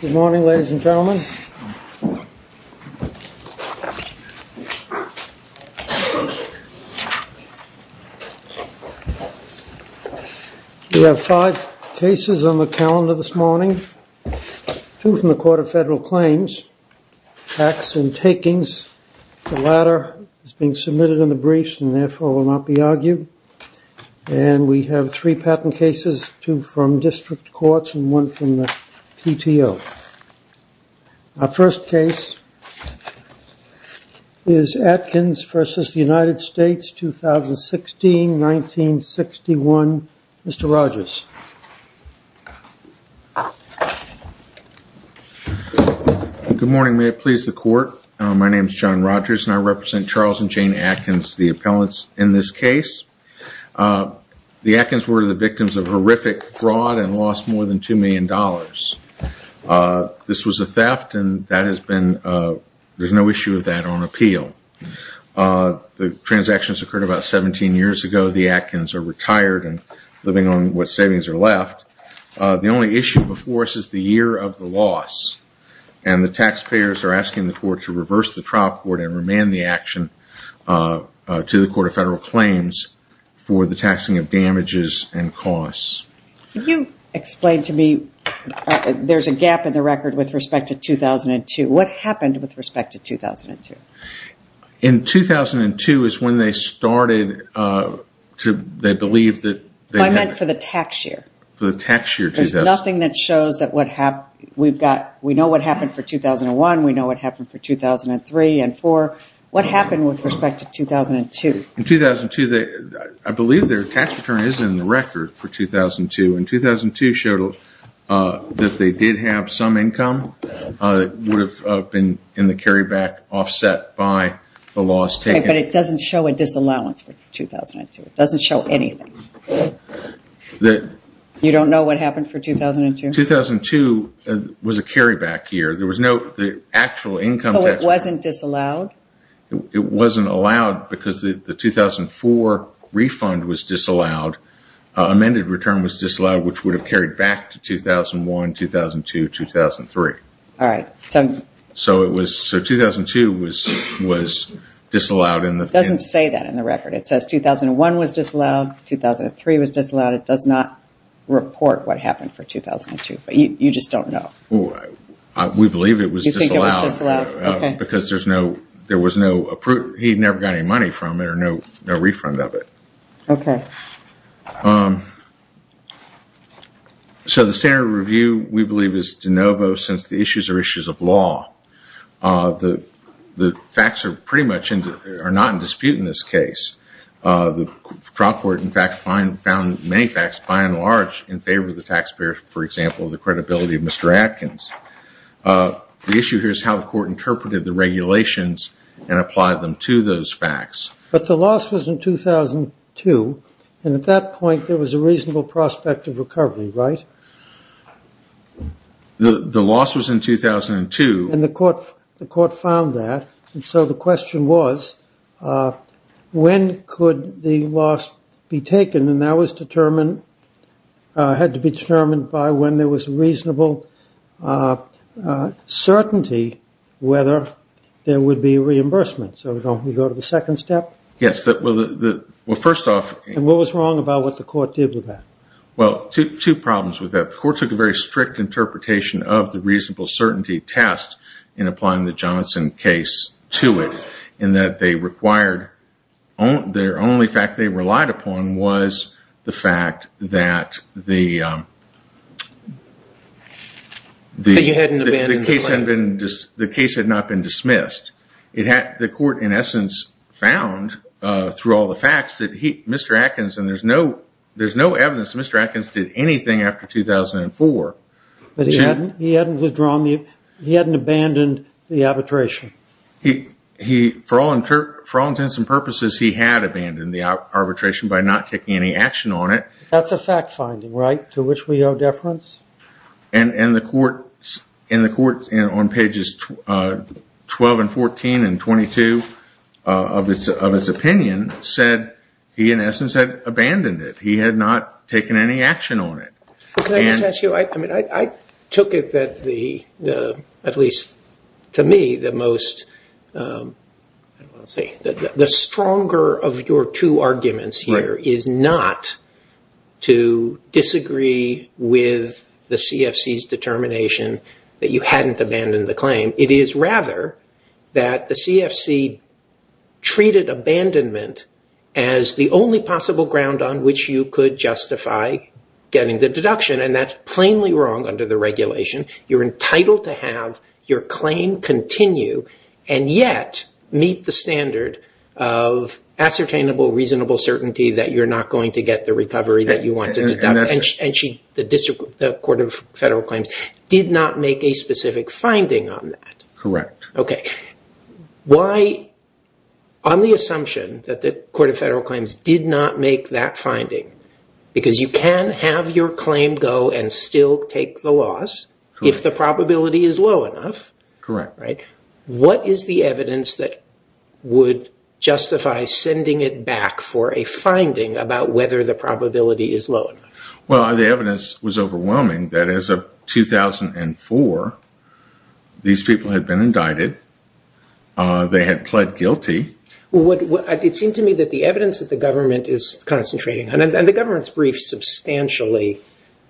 Good morning, ladies and gentlemen. We have five cases on the calendar this morning. Two from the Court of Federal Claims, Acts and Takings. The latter is being submitted in the briefs and therefore will not be argued. And we have three patent cases, two from district courts and one from the PTO. Our first case is Atkins v. United States, 2016-1961. Mr. Rogers. Good morning, may it please the Court. My name is John Rogers and I represent Charles and Jane Atkins, the appellants in this case. The Atkins were the victims of horrific fraud and lost more than $2 million. This was a theft and there's no issue with that on appeal. The transactions occurred about 17 years ago. The Atkins are retired and living on what savings are left. The only issue before us is the year of the loss. And the taxpayers are asking the Court to reverse the trial court and remand the action to the Court of Federal Claims for the taxing of damages and costs. Can you explain to me, there's a gap in the record with respect to 2002. What happened with respect to 2002? In 2002 is when they started to, they believed that. I meant for the tax year. For the tax year. There's nothing that shows that what happened. We've got, we know what happened for 2001. We know what happened for 2003 and 2004. What happened with respect to 2002? In 2002, I believe their tax return is in the record for 2002. And 2002 showed that they did have some income that would have been in the carryback offset by the loss taken. But it doesn't show a disallowance for 2002. It doesn't show anything. You don't know what happened for 2002? 2002 was a carryback year. There was no actual income tax. So it wasn't disallowed? It wasn't allowed because the 2004 refund was disallowed. Amended return was disallowed which would have carried back to 2001, 2002, 2003. Alright. So 2002 was disallowed. It doesn't say that in the record. It says 2001 was disallowed, 2003 was disallowed. It does not report what happened for 2002. But you just don't know. We believe it was disallowed because there was no, he never got any money from it or no refund of it. Okay. So the standard review we believe is de novo since the issues are issues of law. The facts are pretty much, are not in dispute in this case. The trial court in fact found many facts by and large in favor of the taxpayer, for example, the credibility of Mr. Atkins. The issue here is how the court interpreted the regulations and applied them to those facts. But the loss was in 2002 and at that point there was a reasonable prospect of recovery, right? The loss was in 2002. And the court found that and so the question was, when could the loss be taken? And that was determined, had to be determined by when there was reasonable certainty whether there would be reimbursement. So don't we go to the second step? Yes, well, first off. And what was wrong about what the court did with that? Well, two problems with that. The court took a very strict interpretation of the reasonable certainty test in applying the Johnson case to it. In that they required, their only fact they relied upon was the fact that the case had not been dismissed. The court in essence found through all the facts that Mr. Atkins, and there's no evidence that Mr. Atkins did anything after 2004. But he hadn't withdrawn, he hadn't abandoned the arbitration. He, for all intents and purposes, he had abandoned the arbitration by not taking any action on it. That's a fact finding, right? To which we owe deference. And the court on pages 12 and 14 and 22 of its opinion said he in essence had abandoned it. He had not taken any action on it. Can I just ask you, I took it that the, at least to me, the most, the stronger of your two arguments here is not to disagree with the CFC's determination that you hadn't abandoned the claim. It is rather that the CFC treated abandonment as the only possible ground on which you could justify getting the deduction. And that's plainly wrong under the regulation. You're entitled to have your claim continue and yet meet the standard of ascertainable, reasonable certainty that you're not going to get the recovery that you want to deduct. And she, the district, the Court of Federal Claims did not make a specific finding on that. Correct. Okay. Why, on the assumption that the Court of Federal Claims did not make that finding, because you can have your claim go and still take the loss if the probability is low enough. Correct. What is the evidence that would justify sending it back for a finding about whether the probability is low enough? Well, the evidence was overwhelming that as of 2004, these people had been indicted. They had pled guilty. It seemed to me that the evidence that the government is concentrating, and the government's brief substantially,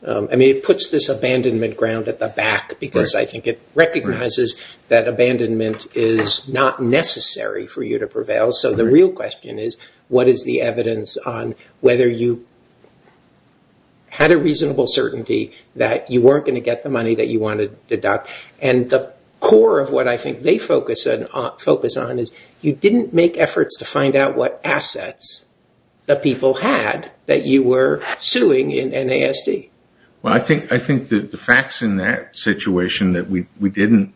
I mean, it puts this abandonment ground at the back because I think it recognizes that abandonment is not necessary for you to prevail. So the real question is, what is the evidence on whether you had a reasonable certainty that you weren't going to get the money that you wanted to deduct? And the core of what I think they focus on is you didn't make efforts to find out what assets the people had that you were suing in NASD. Well, I think the facts in that situation that we didn't,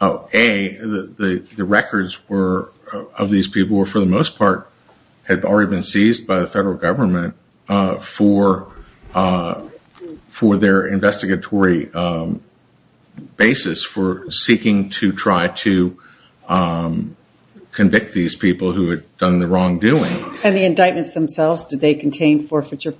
A, the records of these people were for the most part had already been seized by the federal government for their investigatory basis for seeking to try to convict these people who had done the wrongdoing. And the indictments themselves, did they contain forfeiture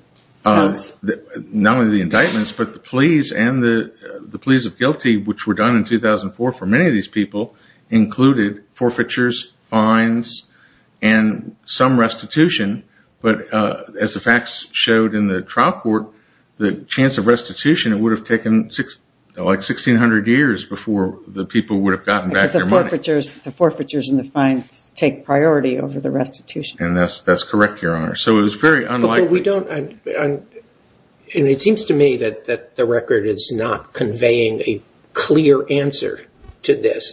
counts? Not only the indictments, but the pleas and the pleas of guilty, which were done in 2004 for many of these people, included forfeitures, fines, and some restitution. But as the facts showed in the trial court, the chance of restitution, it would have taken like 1600 years before the people would have gotten back their money. So the forfeitures and the fines take priority over the restitution. And that's correct, Your Honor. So it was very unlikely. But we don't, and it seems to me that the record is not conveying a clear answer to this.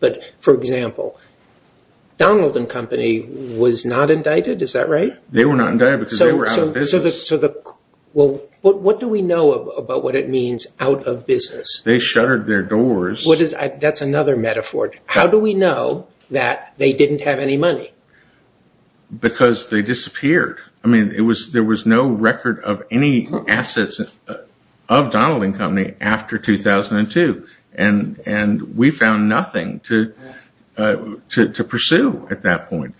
But for example, Donald and Company was not indicted, is that right? They were not indicted because they were out of business. So what do we know about what it means out of business? They shuttered their doors. That's another metaphor. How do we know that they didn't have any money? Because they disappeared. I mean, there was no record of any assets of Donald and Company after 2002. And we found nothing to pursue at that point.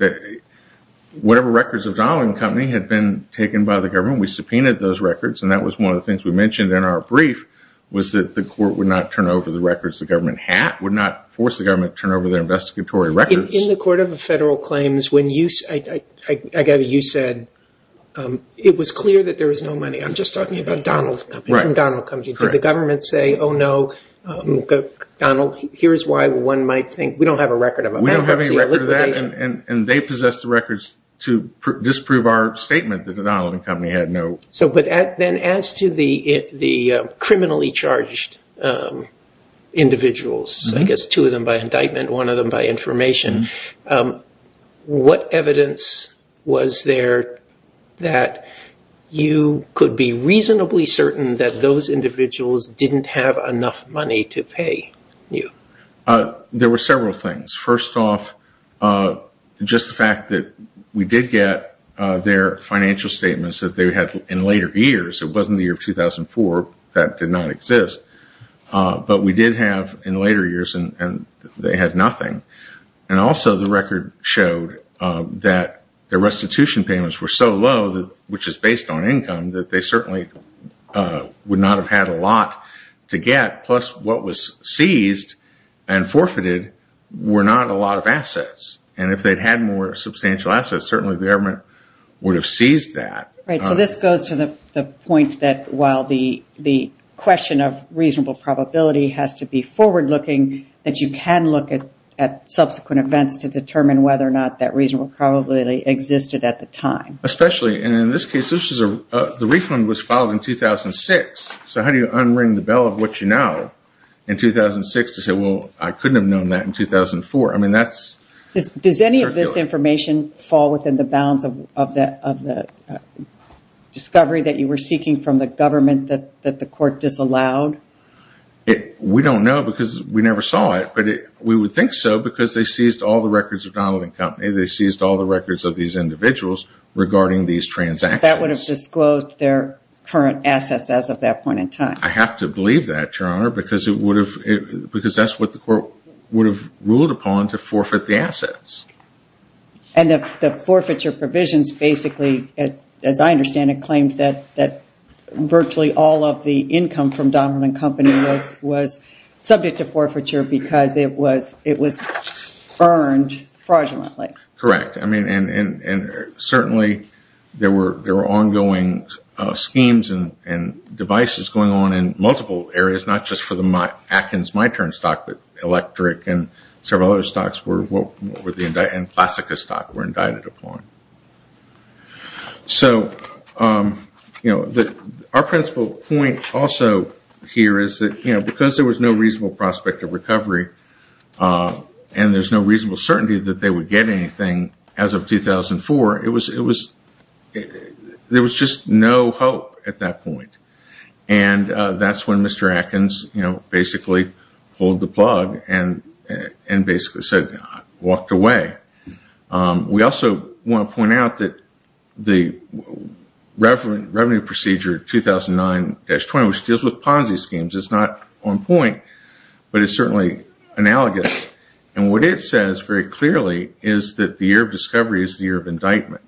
Whatever records of Donald and Company had been taken by the government, we subpoenaed those records. And that was one of the things we mentioned in our brief was that the court would not turn over the records the government had, would not force the government to turn over their investigatory records. In the Court of Federal Claims, I gather you said it was clear that there was no money. I'm just talking about Donald and Company, from Donald and Company. Did the government say, oh, no, Donald, here's why one might think. We don't have a record of it. We don't have any record of that and they possess the records to disprove our statement that the Donald and Company had no money. But then as to the criminally charged individuals, I guess two of them by indictment, one of them by information, what evidence was there that you could be reasonably certain that those individuals didn't have enough money to pay you? There were several things. First off, just the fact that we did get their financial statements that they had in later years. It wasn't the year of 2004. That did not exist. But we did have in later years and they had nothing. And also the record showed that their restitution payments were so low, which is based on income, that they certainly would not have had a lot to get. That plus what was seized and forfeited were not a lot of assets. And if they had more substantial assets, certainly the government would have seized that. So this goes to the point that while the question of reasonable probability has to be forward looking, that you can look at subsequent events to determine whether or not that reasonable probability existed at the time. Especially in this case, the refund was filed in 2006. So how do you unring the bell of what you know in 2006 to say, well, I couldn't have known that in 2004? Does any of this information fall within the bounds of the discovery that you were seeking from the government that the court disallowed? We don't know because we never saw it. But we would think so because they seized all the records of Donald and Company. They seized all the records of these individuals regarding these transactions. But that would have disclosed their current assets as of that point in time. I have to believe that, Your Honor, because that's what the court would have ruled upon to forfeit the assets. And the forfeiture provisions basically, as I understand it, claims that virtually all of the income from Donald and Company was subject to forfeiture because it was earned fraudulently. Correct. And certainly, there were ongoing schemes and devices going on in multiple areas, not just for the Atkins MyTurn stock, but Electric and several other stocks and Classica stock were indicted upon. So our principal point also here is that because there was no reasonable prospect of recovery and there's no reasonable certainty that they would get anything as of 2004, there was just no hope at that point. And that's when Mr. Atkins basically pulled the plug and basically said, I walked away. We also want to point out that the revenue procedure 2009-20, which deals with Ponzi schemes, is not on point. But it's certainly analogous. And what it says very clearly is that the year of discovery is the year of indictment.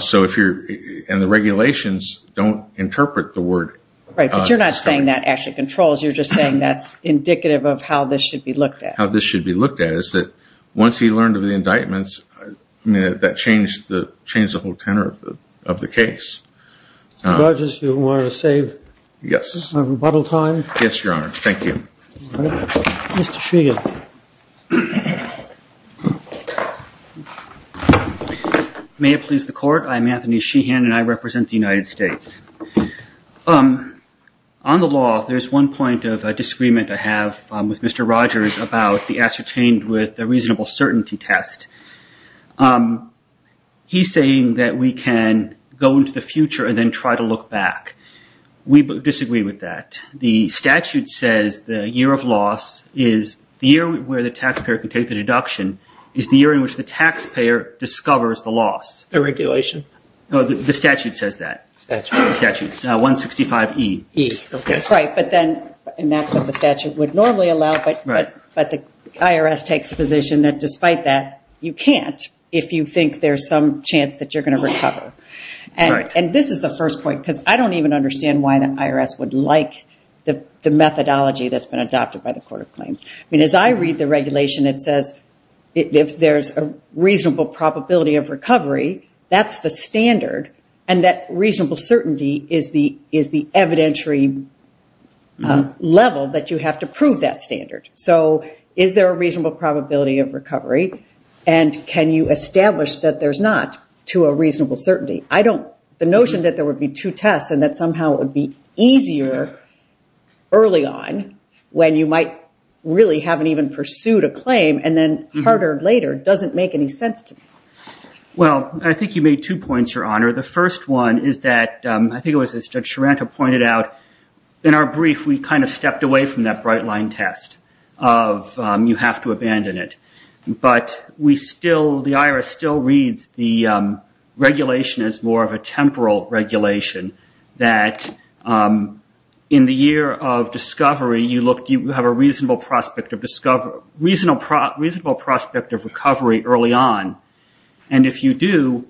So if you're in the regulations, don't interpret the word. Right. But you're not saying that actually controls. You're just saying that's indicative of how this should be looked at. How this should be looked at is that once he learned of the indictments, that changed the change the whole tenor of the case. Mr. Rogers, you want to save rebuttal time? Yes, Your Honor. Thank you. Mr. Sheehan. May it please the Court, I'm Anthony Sheehan and I represent the United States. On the law, there's one point of disagreement I have with Mr. Rogers about the ascertained with a reasonable certainty test. He's saying that we can go into the future and then try to look back. We disagree with that. The statute says the year of loss is the year where the taxpayer can take the deduction is the year in which the taxpayer discovers the loss. The regulation? No, the statute says that. The statute. 165E. And that's what the statute would normally allow, but the IRS takes the position that despite that, you can't if you think there's some chance that you're going to recover. And this is the first point because I don't even understand why the IRS would like the methodology that's been adopted by the Court of Claims. I mean, as I read the regulation, it says if there's a reasonable probability of recovery, that's the standard. And that reasonable certainty is the evidentiary level that you have to prove that standard. So is there a reasonable probability of recovery? And can you establish that there's not to a reasonable certainty? The notion that there would be two tests and that somehow it would be easier early on when you might really haven't even pursued a claim and then harder later doesn't make any sense to me. Well, I think you made two points, Your Honor. The first one is that, I think it was as Judge Charanta pointed out, in our brief, we kind of stepped away from that bright line test of you have to abandon it. But the IRS still reads the regulation as more of a temporal regulation that in the year of discovery, you have a reasonable prospect of recovery early on. And if you do,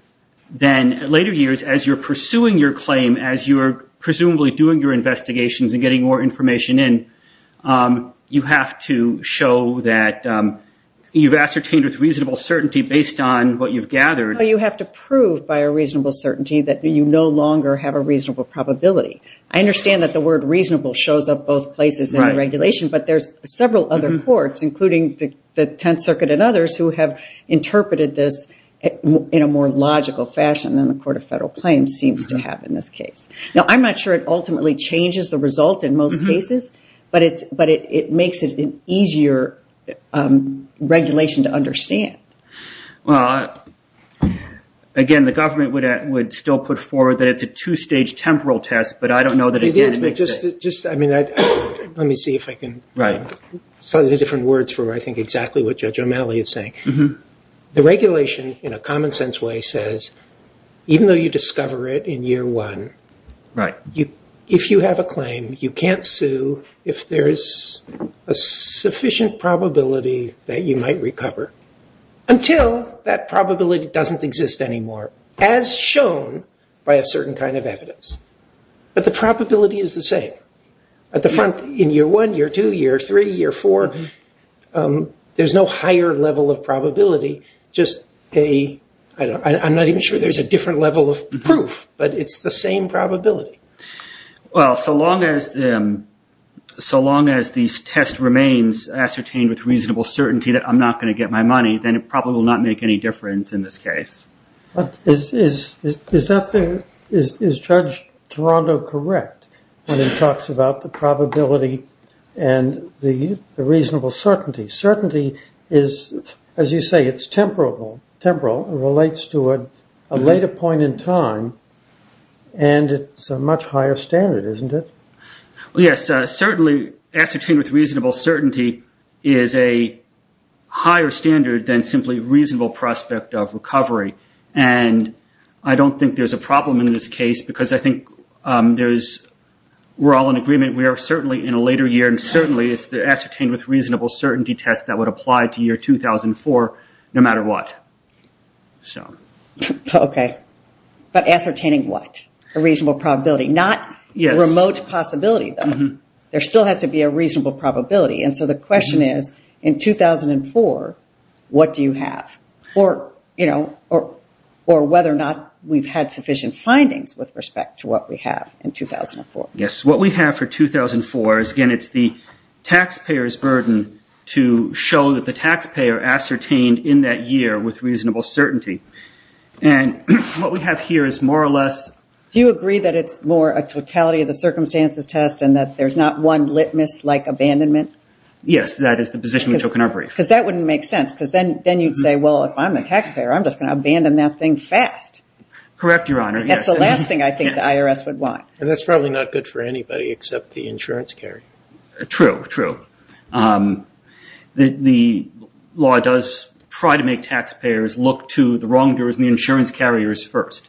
then later years as you're pursuing your claim, as you're presumably doing your investigations and getting more information in, you have to show that you've ascertained with reasonable certainty based on what you've gathered. You have to prove by a reasonable certainty that you no longer have a reasonable probability. I understand that the word reasonable shows up both places in the regulation, but there's several other courts, including the Tenth Circuit and others, who have interpreted this in a more logical fashion than the Court of Federal Claims seems to have in this case. Now, I'm not sure it ultimately changes the result in most cases, but it makes it an easier regulation to understand. Well, again, the government would still put forward that it's a two-stage temporal test, but I don't know that it makes sense. It is, but just, I mean, let me see if I can say the different words for what I think exactly what Judge O'Malley is saying. The regulation, in a common sense way, says even though you discover it in year one, if you have a claim, you can't sue if there is a sufficient probability that you might recover, until that probability doesn't exist anymore, as shown by a certain kind of evidence. But the probability is the same. At the front, in year one, year two, year three, year four, there's no higher level of probability, just a, I'm not even sure there's a different level of proof, but it's the same probability. Well, so long as these tests remain ascertained with reasonable certainty that I'm not going to get my money, then it probably will not make any difference in this case. Is Judge Toronto correct when he talks about the probability and the reasonable certainty? Certainty is, as you say, it's temporal, it relates to a later point in time, and it's a much higher standard, isn't it? Yes, certainly ascertained with reasonable certainty is a higher standard than simply reasonable prospect of recovery. I don't think there's a problem in this case, because I think we're all in agreement, we are certainly in a later year, and certainly it's the ascertained with reasonable certainty test that would apply to year 2004, no matter what. Okay, but ascertaining what? A reasonable probability, not remote possibility, though. There still has to be a reasonable probability, and so the question is, in 2004, what do you have? Or whether or not we've had sufficient findings with respect to what we have in 2004. Yes, what we have for 2004 is, again, it's the taxpayer's burden to show that the taxpayer ascertained in that year with reasonable certainty, and what we have here is more or less... Do you agree that it's more a totality of the circumstances test and that there's not one litmus-like abandonment? Yes, that is the position we took in our brief. Because that wouldn't make sense, because then you'd say, well, if I'm a taxpayer, I'm just going to abandon that thing fast. Correct, Your Honor, yes. That's the last thing I think the IRS would want. And that's probably not good for anybody except the insurance carrier. True, true. The law does try to make taxpayers look to the wrongdoers and the insurance carriers first.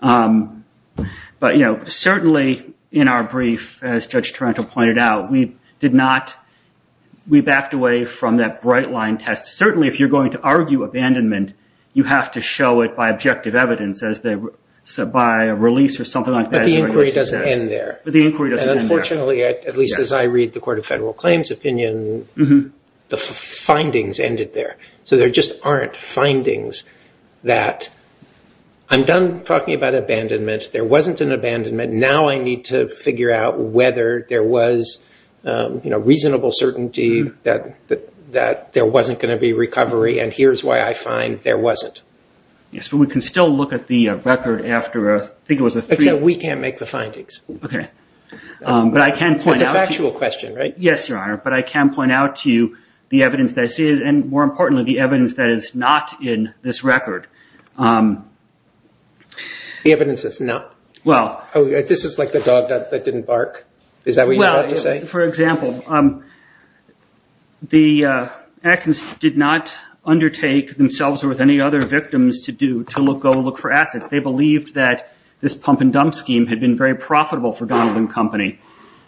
But certainly, in our brief, as Judge Taranto pointed out, we backed away from that bright-line test. Certainly, if you're going to argue abandonment, you have to show it by objective evidence, by a release or something like that. But the inquiry doesn't end there. Unfortunately, at least as I read the Court of Federal Claims opinion, the findings ended there. So there just aren't findings that I'm done talking about abandonment, there wasn't an abandonment, now I need to figure out whether there was reasonable certainty that there wasn't going to be recovery, and here's why I find there wasn't. Yes, but we can still look at the record after, I think it was a three- Except we can't make the findings. It's a factual question, right? Yes, Your Honor, but I can point out to you the evidence that is, and more importantly, the evidence that is not in this record. The evidence that's not? This is like the dog that didn't bark, is that what you're about to say? For example, the Atkins did not undertake themselves or with any other victims to go look for assets. They believed that this pump and dump scheme had been very profitable for Donald and Company,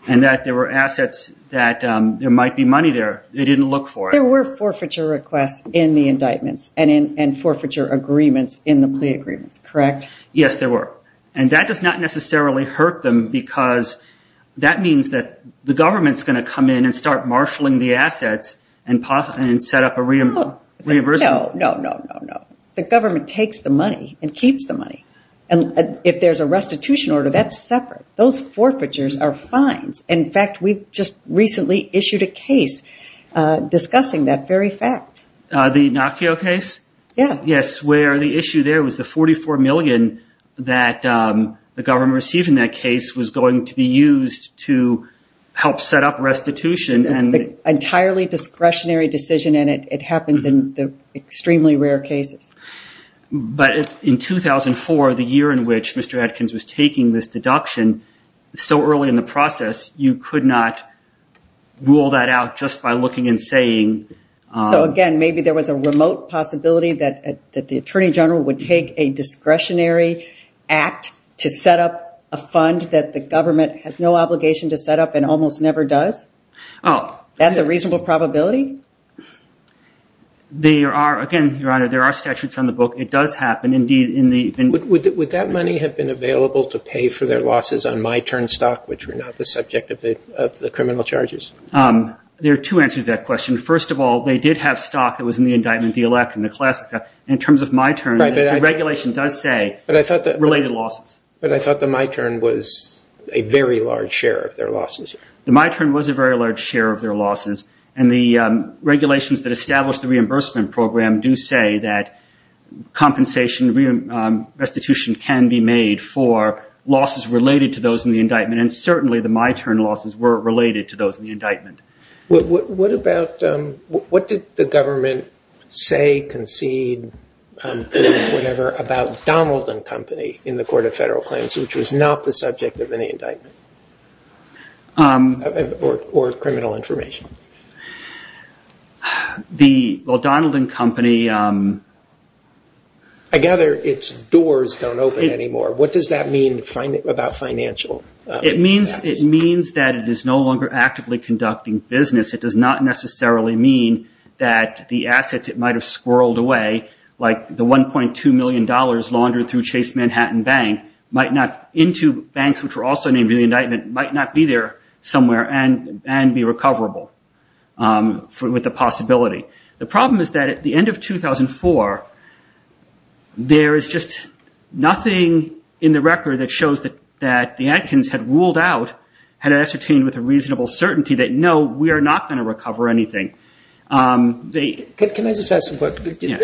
and that there were assets that there might be money there. They didn't look for it. There were forfeiture requests in the indictments and forfeiture agreements in the plea agreements, correct? Yes, there were, and that does not necessarily hurt them because that means that the government's going to come in and start marshalling the assets and set up a reimbursement. No, no, no, no. The government takes the money and keeps the money, and if there's a restitution order, that's separate. Those forfeitures are fines. In fact, we've just recently issued a case discussing that very fact. The Nokia case? Yes, where the issue there was the $44 million that the government received in that case was going to be used to help set up restitution. It's an entirely discretionary decision, and it happens in extremely rare cases. But in 2004, the year in which Mr. Atkins was taking this deduction, so early in the process, you could not rule that out just by looking and saying... So again, maybe there was a remote possibility that the Attorney General would take a discretionary act to set up a fund that the government has no obligation to set up and almost never does? That's a reasonable probability? Yes, it is. Would that money have been available to pay for their losses on my turn stock, which were not the subject of the criminal charges? There are two answers to that question. First of all, they did have stock that was in the indictment, the elect and the classica. In terms of my turn, the regulation does say related losses. But I thought the my turn was a very large share of their losses. The my turn was a very large share of their losses, and the regulations that established the reimbursement program do say that compensation restitution can be made for losses related to those in the indictment, and certainly the my turn losses were related to those in the indictment. What did the government say, concede, whatever, about Donald and Company in the Court of Federal Claims, which was not the subject of any indictment? Or criminal information? Donald and Company... I gather its doors don't open anymore. What does that mean about financial? It means that it is no longer actively conducting business. It does not necessarily mean that the assets it might have squirreled away, like the $1.2 million laundered through Chase Manhattan Bank, into banks which were also named in the indictment, might not be there somewhere and be recoverable with the possibility. The problem is that at the end of 2004, there is just nothing in the record that shows that the Atkins had ruled out, had ascertained with a reasonable certainty, that no, we are not going to recover anything. Can I just ask a question?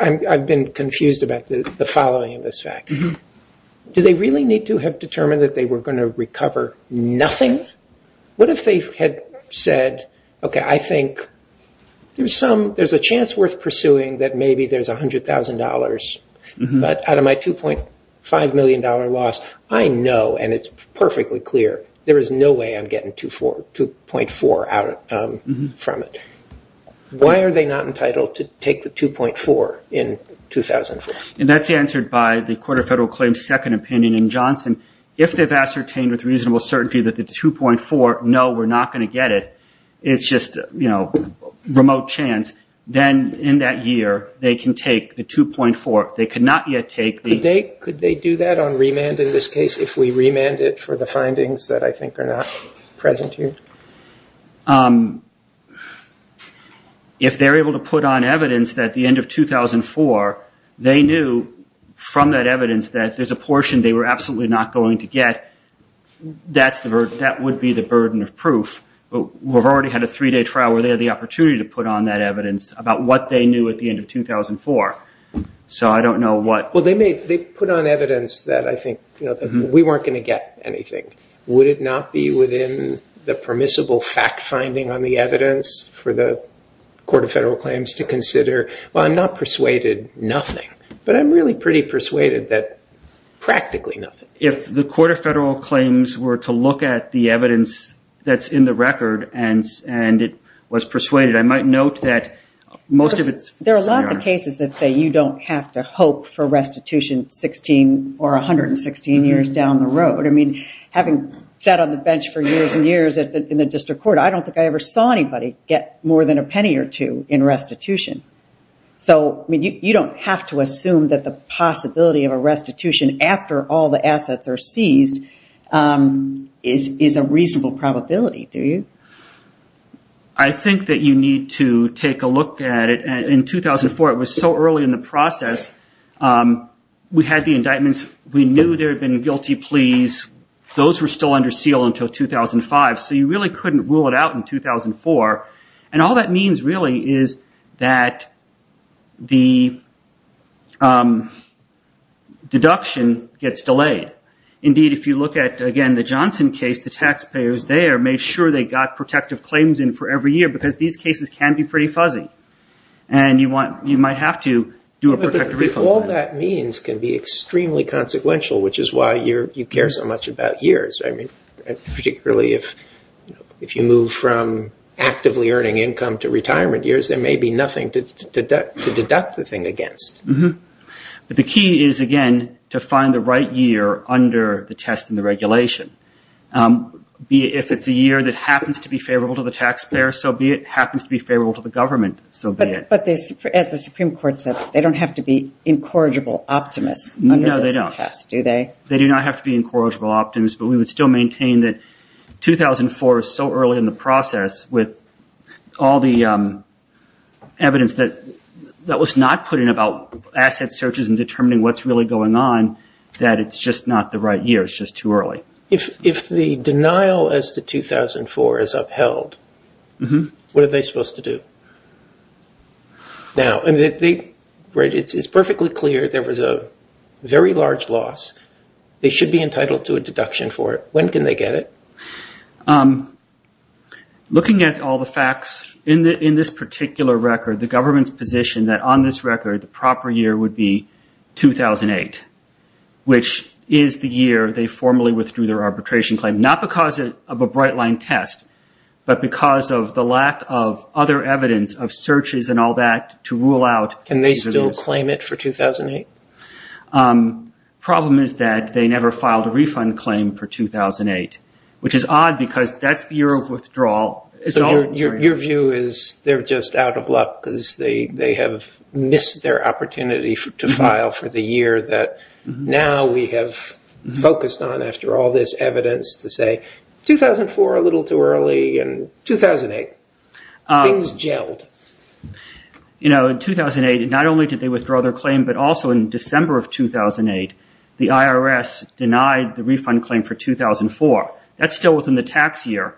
I've been confused about the following of this fact. Do they really need to have determined that they were going to recover nothing? What if they had said, okay, I think there's a chance worth pursuing that maybe there's $100,000, but out of my $2.5 million loss, I know and it's perfectly clear, there is no way I'm getting 2.4 out from it. Why are they not entitled to take the 2.4 in 2004? That's answered by the Court of Federal Claims' second opinion in Johnson. If they've ascertained with reasonable certainty that the 2.4, no, we're not going to get it, it's just a remote chance, then in that year, they can take the 2.4. Could they do that on remand in this case, if we remand it for the findings that I think are not present here? If they're able to put on evidence that at the end of 2004, they knew from that evidence that there's a portion they were absolutely not going to get, that would be the burden of proof. We've already had a three-day trial where they had the opportunity to put on that evidence about what they knew at the end of 2004. So I don't know what... If the Court of Federal Claims were to look at the evidence that's in the record and it was persuaded, I might note that most of it's... There are lots of cases that say you don't have to hope for restitution 16 or 116 years down the road. Having sat on the bench for years and years in the district court, I don't think I ever saw anybody get more than a penny or two in restitution. You don't have to assume that the possibility of a restitution after all the assets are seized is a reasonable probability, do you? I think that you need to take a look at it. In 2004, it was so early in the process, we had the indictments. We knew there had been guilty pleas. Those were still under seal until 2005. So you really couldn't rule it out in 2004. All that means really is that the deduction gets delayed. Indeed, if you look at, again, the Johnson case, the taxpayers there made sure they got protective claims in for every year because these cases can be pretty fuzzy. If all that means can be extremely consequential, which is why you care so much about years, particularly if you move from actively earning income to retirement years, there may be nothing to deduct the thing against. But the key is, again, to find the right year under the test and the regulation. If it's a year that happens to be favorable to the taxpayer, so be it. If it happens to be favorable to the government, so be it. But as the Supreme Court said, they don't have to be incorrigible optimists under this test, do they? They do not have to be incorrigible optimists, but we would still maintain that 2004 is so early in the process with all the evidence that was not put in about asset searches and determining what's really going on that it's just not the right year. If the denial as to 2004 is upheld, what are they supposed to do? Now, it's perfectly clear there was a very large loss. They should be entitled to a deduction for it. When can they get it? Looking at all the facts, in this particular record, the government's position that on this record, the proper year would be 2008, which is the year they would get it. They formally withdrew their arbitration claim, not because of a bright-line test, but because of the lack of other evidence of searches and all that to rule out. Can they still claim it for 2008? The problem is that they never filed a refund claim for 2008, which is odd because that's the year of withdrawal. Your view is they're just out of luck because they have missed their opportunity to file for the year that now we have focused on. After all this evidence to say 2004 a little too early and 2008, things gelled. In 2008, not only did they withdraw their claim, but also in December of 2008, the IRS denied the refund claim for 2004. That's still within the tax year.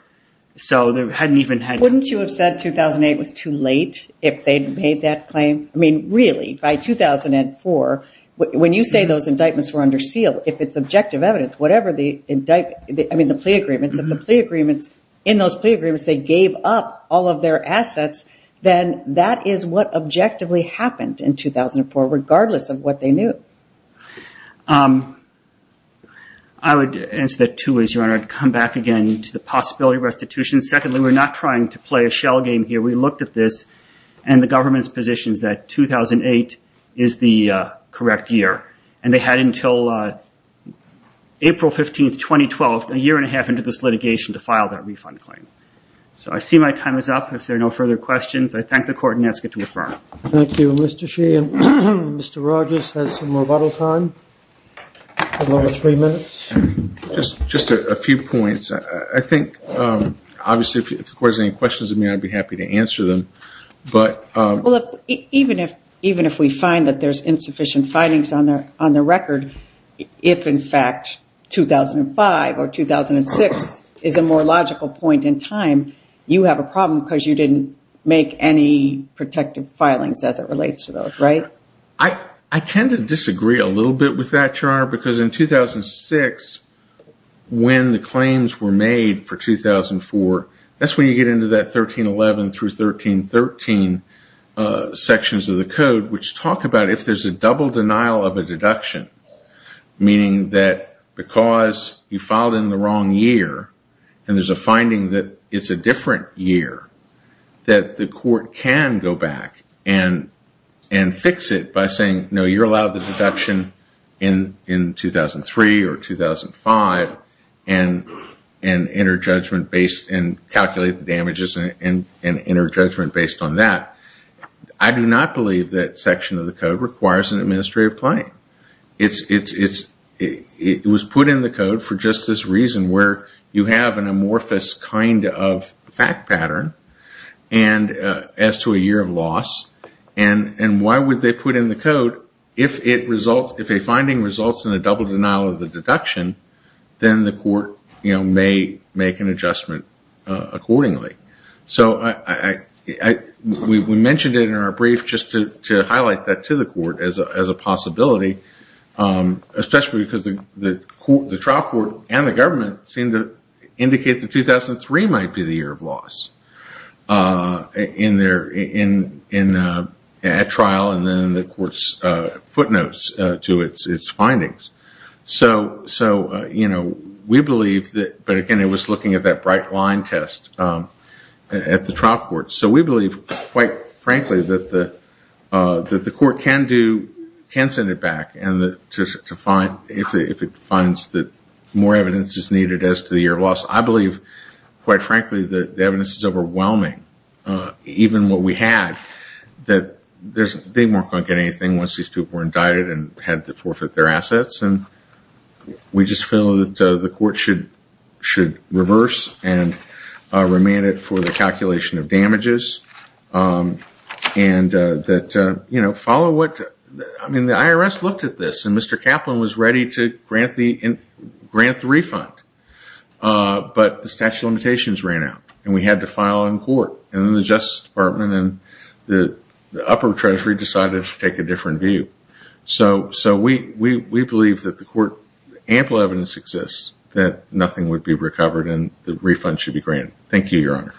Wouldn't you have said 2008 was too late if they'd made that claim? Really, by 2004, when you say those indictments were under seal, if it's objective evidence, the plea agreements, if the plea agreements, in those plea agreements, they gave up all of their assets, then that is what objectively happened in 2004, regardless of what they knew. I would answer that too. I'd come back again to the possibility of restitution. Secondly, we're not trying to play a shell game here. We looked at this and the government's position is that 2008 is the correct year. They had until April 15, 2012, a year and a half into this litigation to file that refund claim. I see my time is up. If there are no further questions, I thank the court and ask it to refer. Thank you, Mr. Sheehan. Mr. Rogers has some rebuttal time. Just a few points. I think, obviously, if the court has any questions of me, I'd be happy to answer them. Even if we find that there's insufficient findings on the record, if in fact 2005 or 2006 is a more logical point in time, you have a problem because you didn't make any protective findings. I tend to disagree a little bit with that, Your Honor, because in 2006, when the claims were made for 2004, that's when you get into that 1311 through 1313 sections of the code, which talk about if there's a double denial of a deduction, meaning that because you filed in the wrong year and there's a finding that it's a different year, that the court can go back and fix it by saying, no, you're allowed the deduction in 2003 or 2005 and calculate the damages and enter judgment based on that. I do not believe that section of the code requires an administrative claim. It was put in the code for just this reason where you have an amorphous kind of fact pattern as to a year of loss. Why would they put in the code if a finding results in a double denial of the deduction, then the court may make an adjustment accordingly. We mentioned it in our brief just to highlight that to the court as a possibility. Especially because the trial court and the government seem to indicate that 2003 might be the year of loss in that trial and then the court's footnotes to its findings. But again, it was looking at that bright line test at the trial court. So we believe, quite frankly, that the court can send it back if it finds that more evidence is needed as to the year of loss. I believe, quite frankly, that the evidence is overwhelming, even what we had. They weren't going to get anything once these people were indicted and had to forfeit their assets. We just feel that the court should reverse and remand it for the calculation of damages. The IRS looked at this and Mr. Kaplan was ready to grant the refund. But the statute of limitations ran out and we had to file in court. And the Justice Department and the upper treasury decided to take a different view. So we believe that the court ample evidence exists that nothing would be recovered and the refund should be granted. Thank you, Your Honor.